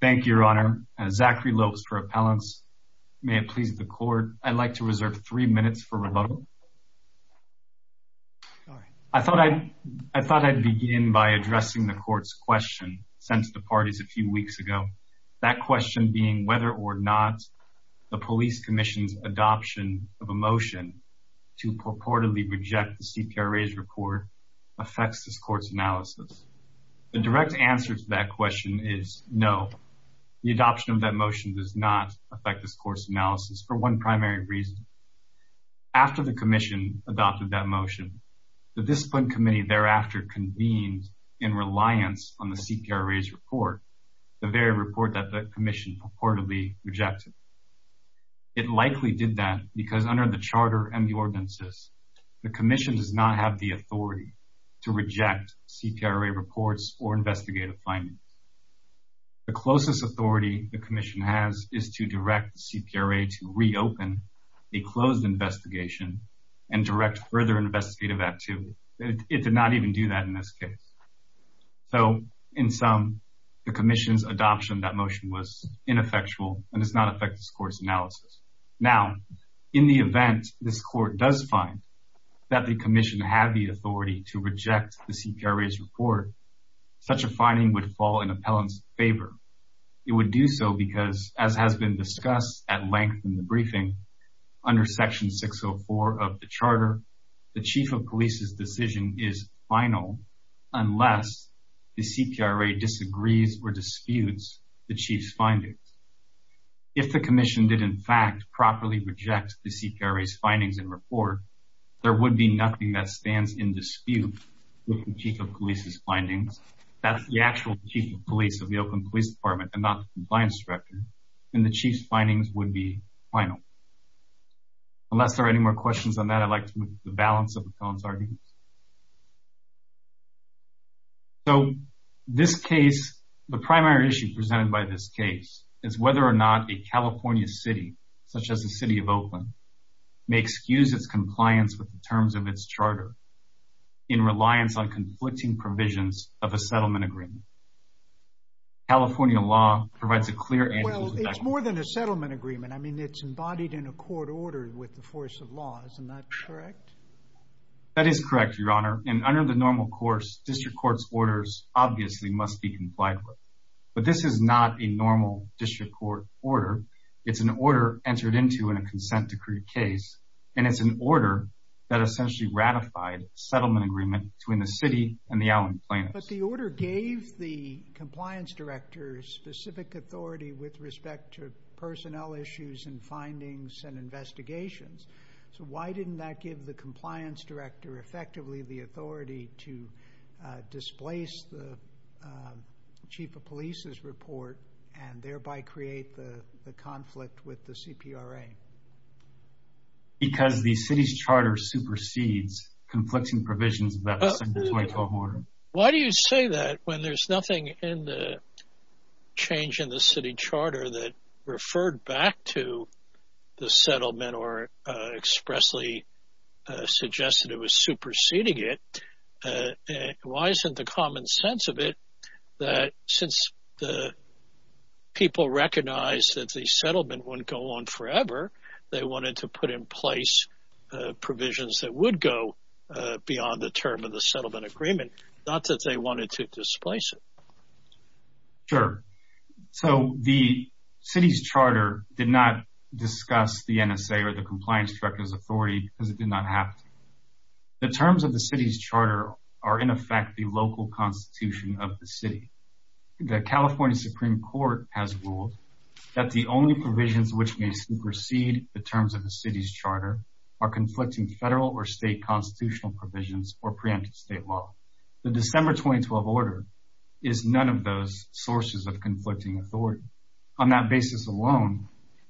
Thank you, Your Honor. Zachary Lopes for appellants. May it please the court, I'd like to reserve three minutes for rebuttal. I thought I'd begin by addressing the court's question sent to the parties a few weeks ago. That question being whether or not the police commission's adoption of a motion to purportedly reject the CPRA's report affects this question is no. The adoption of that motion does not affect this court's analysis for one primary reason. After the commission adopted that motion, the discipline committee thereafter convened in reliance on the CPRA's report, the very report that the commission purportedly rejected. It likely did that because under the charter and the ordinances, the commission does not have the authority to reject CPRA reports or investigative findings. The closest authority the commission has is to direct the CPRA to reopen a closed investigation and direct further investigative act to it. It did not even do that in this case. So in sum, the commission's adoption of that motion was ineffectual and does not affect this court's analysis. Now, in the event this court does find that the commission had the authority to reject the CPRA's report, such a finding would fall in appellant's favor. It would do so because as has been discussed at length in the briefing, under section 604 of the charter, the chief of police's decision is final unless the CPRA disagrees or disputes the chief's findings. If the commission did in fact properly reject the CPRA's findings and report, there would be nothing that stands in dispute with the chief of police's findings. That's the actual chief of police of the Oakland Police Department and not the compliance director. And the chief's findings would be final. Unless there are any more questions on that, I'd like to move to the balance of appellant's arguments. So this case, the primary issue presented by this case is whether or not a California city, such as the may excuse its compliance with the terms of its charter in reliance on conflicting provisions of a settlement agreement. California law provides a clear... Well, it's more than a settlement agreement. I mean, it's embodied in a court order with the force of law. Isn't that correct? That is correct, Your Honor. And under the normal course, district court's orders obviously must be complied with. But this is not a normal district court order. It's an order entered into in a consent decree case. And it's an order that essentially ratified settlement agreement between the city and the Oakland plaintiffs. But the order gave the compliance director specific authority with respect to personnel issues and findings and investigations. So why didn't that give the compliance director effectively the authority to conflict with the CPRA? Because the city's charter supersedes conflicting provisions of that statutory court order. Why do you say that when there's nothing in the change in the city charter that referred back to the settlement or expressly suggested it was superseding it? Why isn't the common sense of it that since the people recognize that the settlement wouldn't go on forever, they wanted to put in place provisions that would go beyond the term of the settlement agreement, not that they wanted to displace it? Sure. So the city's charter did not discuss the NSA or the compliance director's authority because it did not happen. The terms of the city's charter are in effect the local constitution of the city. The California Supreme Court has ruled that the only provisions which may supersede the terms of the city's charter are conflicting federal or state constitutional provisions or preemptive state law. The December 2012 order is none of those sources of conflicting authority. On that basis alone,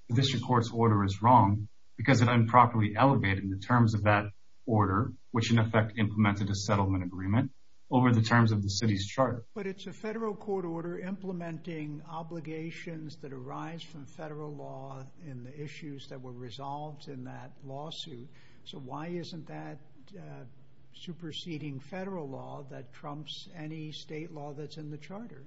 the district court's order is wrong because it improperly elevated the terms of that order, which in effect implemented a settlement agreement over the terms of the city's charter. But it's a federal court order implementing obligations that arise from federal law in the issues that were resolved in that lawsuit. So why isn't that superseding federal law that trumps any state law that's in the charter?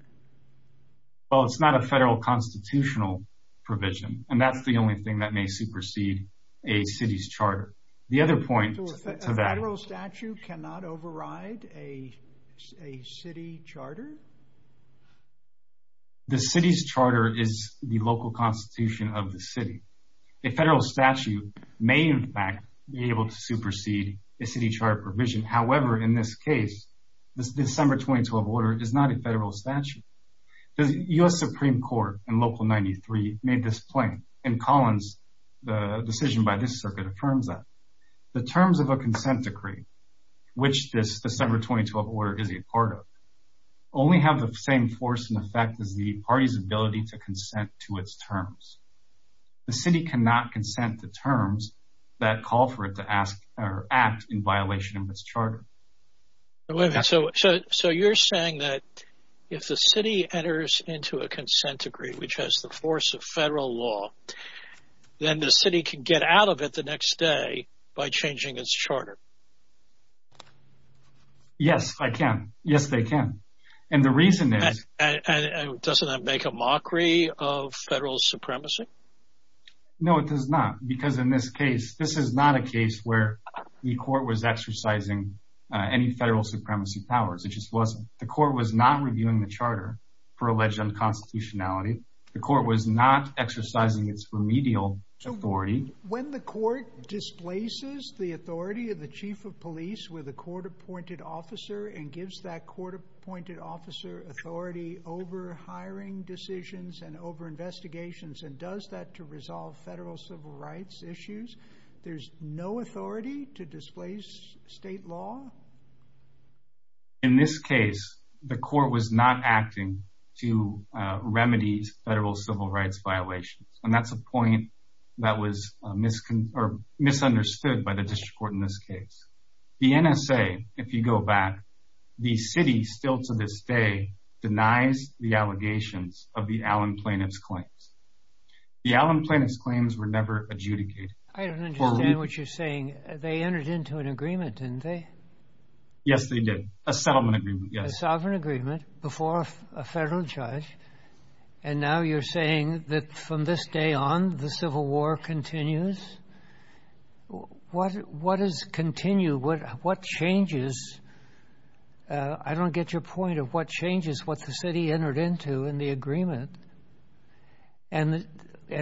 Well, it's not a federal constitutional provision, and that's the only thing that may supersede a city's charter. The other point to that... So a federal statute cannot override a city charter? The city's charter is the local constitution of the city. A federal statute may, in fact, be able to supersede a city charter provision. However, in this case, this December 2012 order is not a federal statute. The US Supreme Court in Local 93 made this claim, and Collins, the decision by this circuit affirms that. The terms of a consent decree, which this December 2012 order is a part of, only have the same force and effect as the party's ability to consent to its terms. The city cannot consent to terms that call for it to ask or act in its charter. So you're saying that if the city enters into a consent decree, which has the force of federal law, then the city can get out of it the next day by changing its charter? Yes, I can. Yes, they can. And the reason is... Doesn't that make a mockery of federal supremacy? No, it does not, because in this case, this is not a case where the court was exercising any federal supremacy powers. It just wasn't. The court was not reviewing the charter for alleged unconstitutionality. The court was not exercising its remedial authority. When the court displaces the authority of the chief of police with a court-appointed officer and gives that court-appointed officer authority over hiring decisions and over investigations and does that to resolve federal civil rights issues, there's no authority to displace state law? In this case, the court was not acting to remedy federal civil rights violations. And that's a point that was misunderstood by the district court in this case. The NSA, if you go back, the city still to this day denies the allegations of the Allen plaintiff's claims. The Allen plaintiff's claims were never adjudicated. I don't understand what you're saying. They entered into an agreement, didn't they? Yes, they did. A settlement agreement, yes. A sovereign agreement before a federal judge. And now you're saying that from this day on, the Civil War continues? What is continue? What changes? And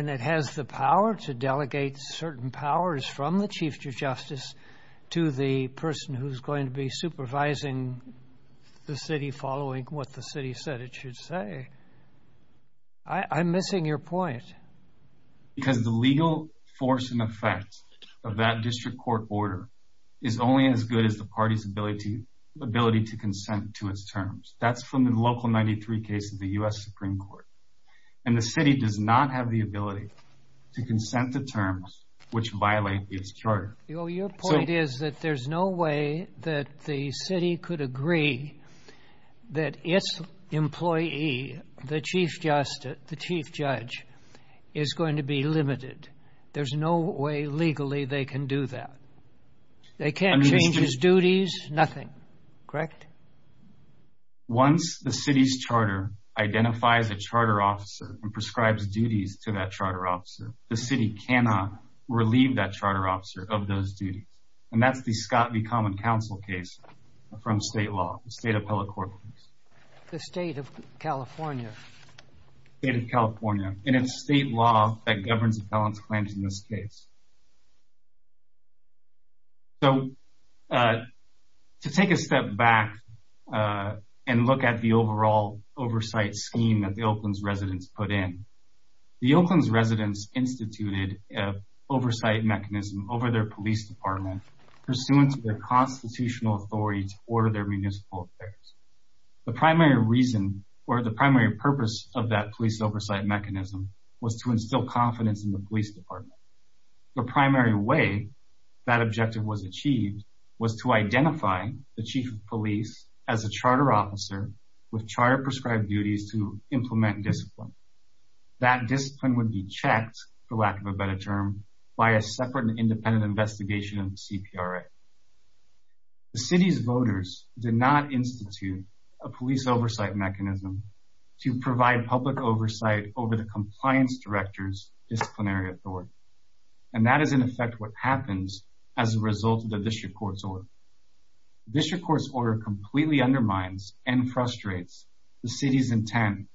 it has the power to delegate certain powers from the chief of justice to the person who's going to be supervising the city following what the city said it should say. I'm missing your point. Because the legal force and effect of that district court order is only as good as the party's ability to consent to its terms. That's from the Local 93 case of the U.S. Supreme Court. And the city does not have the ability to consent to terms which violate its charter. Your point is that there's no way that the city could agree that its employee, the chief justice, the chief judge, is going to be limited. There's no way legally they can do that. They can't change his duties, nothing. Correct? Once the city's charter identifies a charter officer and prescribes duties to that charter officer, the city cannot relieve that charter officer of those duties. And that's the Scott v. Common Council case from state law, the state appellate court case. The state of California? State of California. And it's state law that governs appellant's claims in this case. So to take a step back and look at the overall oversight scheme that the Oakland's residents put in, the Oakland's residents instituted an oversight mechanism over their police department pursuant to their constitutional authority to order their municipal affairs. The primary reason or the primary purpose of that police oversight mechanism was to instill confidence in the police department. The primary way that objective was achieved was to identify the chief of police as a charter officer with charter prescribed duties to implement discipline. That discipline would be checked, for lack of a better term, by a separate and independent investigation of the CPRA. The city's voters did not institute a police oversight mechanism to provide public oversight over the compliance director's disciplinary authority. And that is in effect what happens as a result of the district court's order. District court's order completely undermines and frustrates the city's intent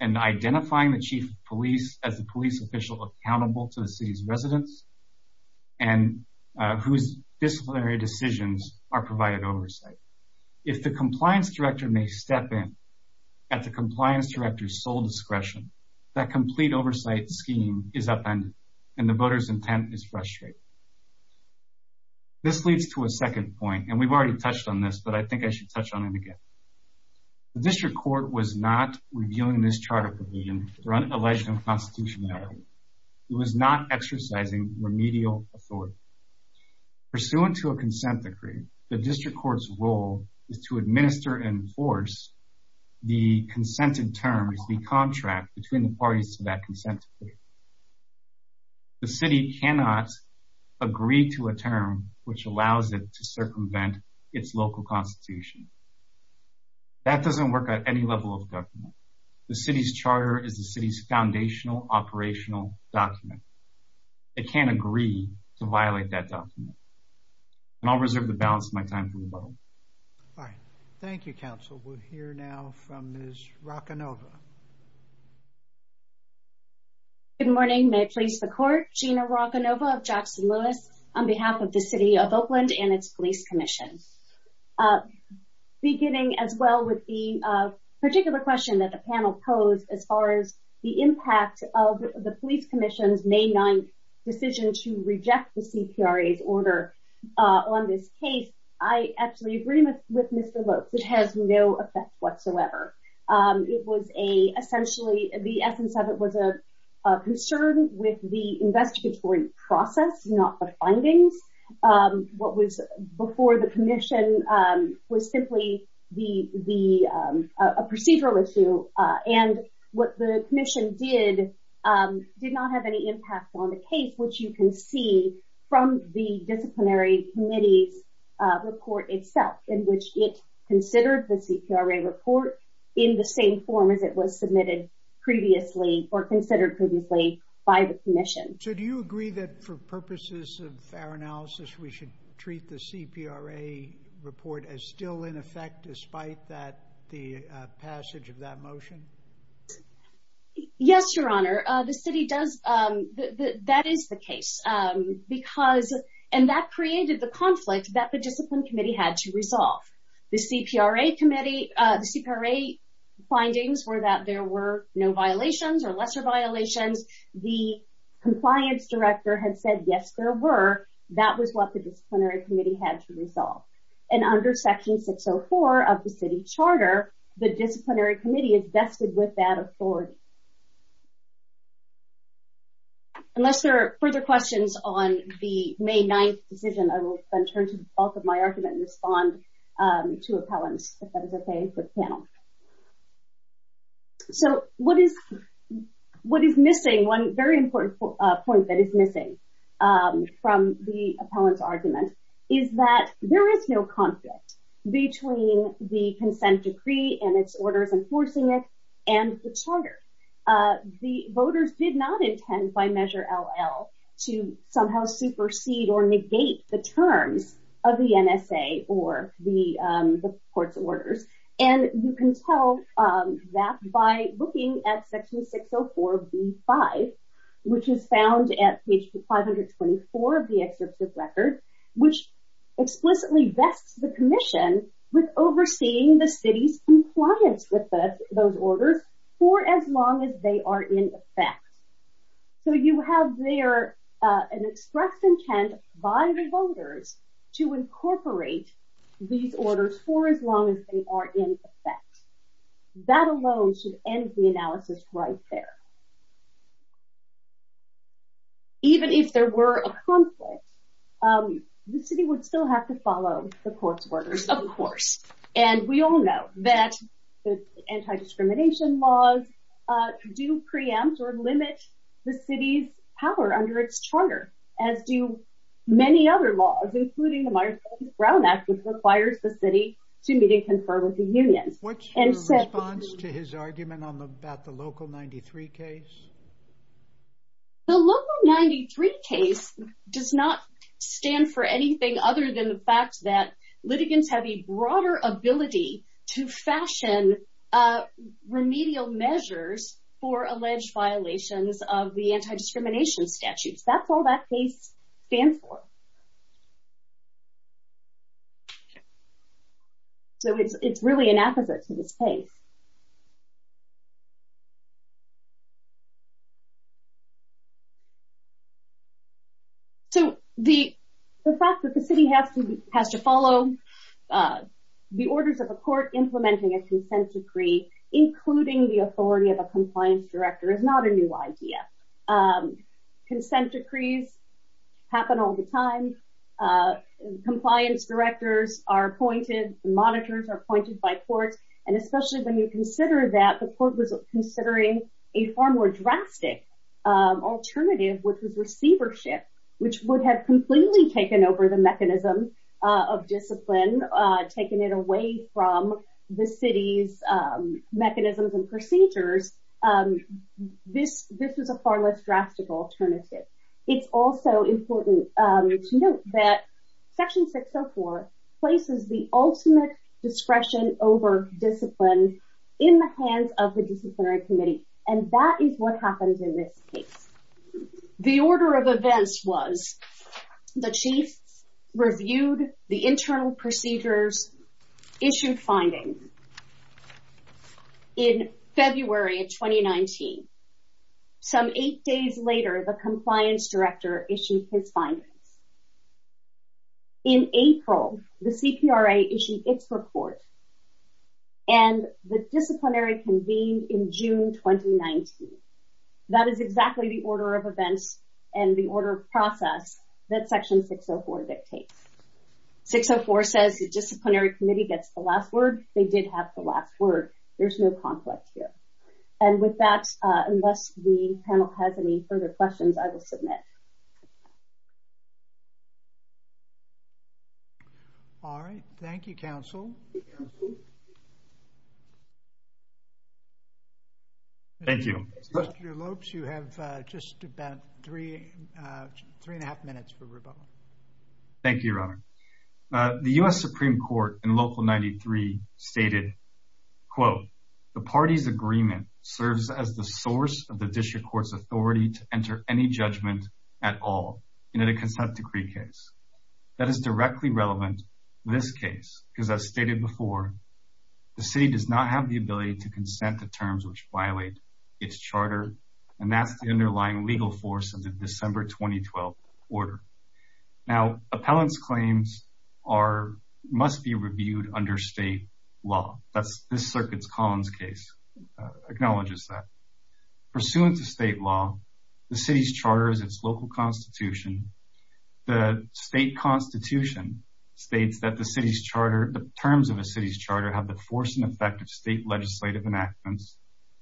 in identifying the chief of police as a police official accountable to the city's residents and whose disciplinary decisions are provided oversight. If the compliance director may step in at the compliance director's sole intent is frustrated. This leads to a second point, and we've already touched on this, but I think I should touch on it again. The district court was not reviewing this charter provision for an alleged unconstitutionality. It was not exercising remedial authority. Pursuant to a consent decree, the district court's role is to administer and enforce the consented terms, the contract between the parties to that consent decree. The city cannot agree to a term which allows it to circumvent its local constitution. That doesn't work at any level of government. The city's charter is the city's foundational operational document. It can't agree to violate that document. And I'll reserve the balance of my time for rebuttal. All right. Thank you, counsel. We'll hear now from Ms. Rocanova. Good morning. May I please the court? Gina Rocanova of Jackson Lewis on behalf of the city of Oakland and its police commission. Beginning as well with the particular question that the panel posed as far as the impact of the police commission's May 9 decision to reject the CPRA's order on this case, I absolutely agree with Mr. Lopes. It has no effect whatsoever. It was a essentially the essence of it was a concern with the investigatory process, not the findings. What was before the commission was simply the the procedural issue. And what the commission did did not have any impact on the case, which you can see from the disciplinary committee's report itself in which it considered the in the same form as it was submitted previously or considered previously by the commission. So do you agree that for purposes of fair analysis, we should treat the CPRA report as still in effect despite that the passage of that motion? Yes, Your Honor. The city does. That is the case because and that created the conflict that the discipline committee had to resolve. The CPRA committee, the CPRA findings were that there were no violations or lesser violations. The compliance director had said, yes, there were. That was what the disciplinary committee had to resolve. And under section 604 of the city charter, the disciplinary committee is vested with that authority. Unless there are further questions on the May 9 decision, I will then turn to both of my argument and respond to appellants, if that is OK for the panel. So what is what is missing? One very important point that is missing from the appellant's argument is that there is no conflict between the consent decree and its orders enforcing it and the charter. The voters did not intend by measure LL to somehow supersede or negate the terms of the NSA or the court's orders. And you can tell that by looking at section 604B5, which is found at page 524 of the excerpt of record, which explicitly vests the commission with overseeing the city's compliance with those orders for as long as they are in effect. So you have there an express intent by the voters to incorporate these orders for as long as they are in effect. That alone should end the analysis right there. Even if there were a conflict, the city would still have to follow the court's orders, of course. And we all know that anti-discrimination laws do preempt or limit the city's power under its charter, as do many other laws, including the Myers-Brown Act, which requires the city to meet and confer with the unions. What's your response to his argument about the Local 93 case? The Local 93 case does not stand for anything other than the fact that litigants have a broader ability to fashion remedial measures for alleged violations of the anti-discrimination statutes. That's all that case stands for. So it's really an opposite to this case. So the fact that the city has to has to follow the orders of a court implementing a consent decree, including the authority of a compliance director, is not a new idea. Consent decrees happen all the time. Compliance directors are appointed, monitors are appointed by court. And especially when you consider that the court was considering a far more drastic alternative, which was receivership, which would have completely taken over the mechanism of discipline, taken it away from the city's mechanisms and procedures. This this was a far less drastic alternative. It's also important to note that Section 604 places the ultimate discretion over discipline in the hands of the disciplinary committee. And that is what happens in this case. The order of events was the chief reviewed the internal procedures, issued findings. In February of 2019, some eight days later, the compliance director issued his findings. In April, the CPRA issued its report and the disciplinary convened in June 2019. That is exactly the order of events and the order of process that Section 604 dictates. 604 says the disciplinary committee gets the last word. They did have the last word. There's no conflict here. And with that, unless the panel has any further questions, I will submit. All right. Thank you, counsel. Thank you, Mr. Lopes. You have just about three, three and a half minutes for rebuttal. Thank you, Your Honor. The U.S. Supreme Court in Local 93 stated, quote, the party's agreement serves as the source of the district court's authority to enter any judgment at all in a consent decree case. That is directly relevant to this case because as stated before, the city does not have the ability to consent to terms which violate its charter, and that's the underlying legal force of the December, 2012 order. Now, appellant's claims are, must be reviewed under state law. That's this circuit's Collins case acknowledges that. Pursuant to state law, the city's charter is its local constitution. The state constitution states that the city's charter, the terms of a city's charter have the force and effect of state legislative enactments,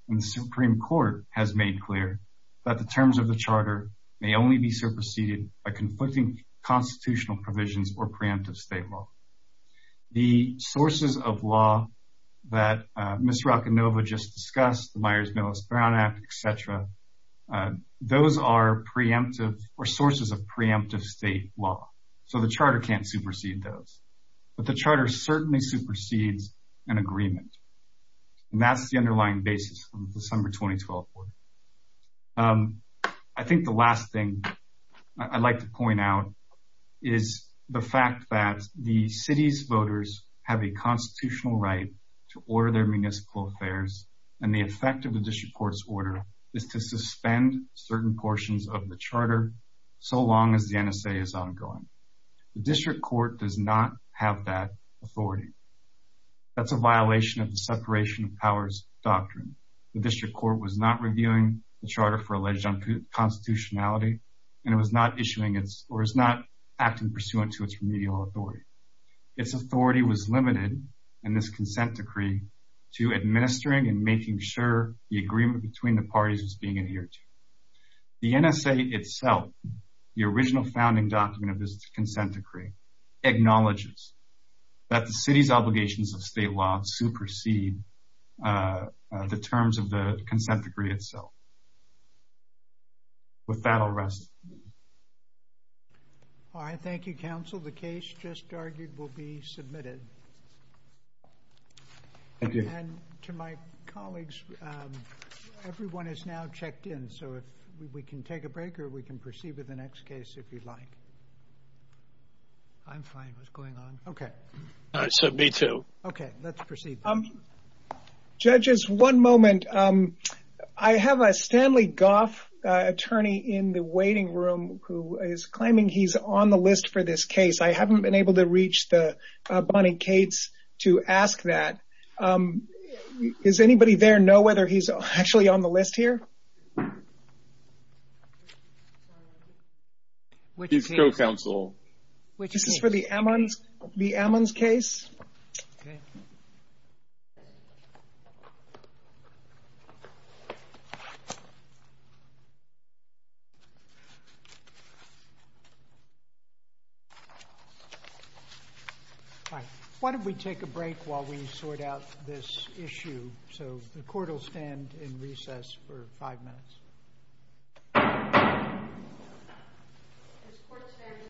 and the Supreme Court has made clear that the terms of the charter may only be superseded by conflicting constitutional provisions or preemptive state law. The sources of law that Ms. Rocanova just discussed, the Myers-Millis-Brown Act, et cetera, those are preemptive or sources of preemptive state law, so the charter can't supersede those, but the charter certainly supersedes an agreement, and that's the underlying basis of the December, 2012 order. I think the last thing I'd like to point out is the fact that the city's voters have a constitutional right to order their municipal affairs, and the effect of the district court's order is to suspend certain portions of the charter so long as the NSA is ongoing. The district court does not have that authority. That's a violation of the separation of powers doctrine. The district court was not reviewing the charter for alleged constitutionality, and it was not issuing its, or is not acting pursuant to its remedial authority. Its authority was limited in this consent decree to administering and making sure the agreement between the parties is being adhered to. The NSA itself, the original founding document of this consent decree, acknowledges that the city's obligations of state law supersede the terms of the consent decree itself. With that, I'll rest. All right. Thank you, counsel. The case just argued will be submitted. Thank you. And to my colleagues, everyone is now checked in, so if we can take a break or we can proceed with the next case if you'd like. I'm fine. What's going on? Okay. All right. So, me too. Okay. Let's proceed. Judges, one moment. I have a Stanley Goff attorney in the waiting room who is claiming he's on the list for this case. I haven't been able to reach the Bonnie Cates to ask that. Is anybody there know whether he's actually on the list here? Which is his co-counsel. This is for the Ammons case? Okay. All right. Why don't we take a break while we sort out this issue? So, the court will stand in recess for five minutes. The court stands in recess.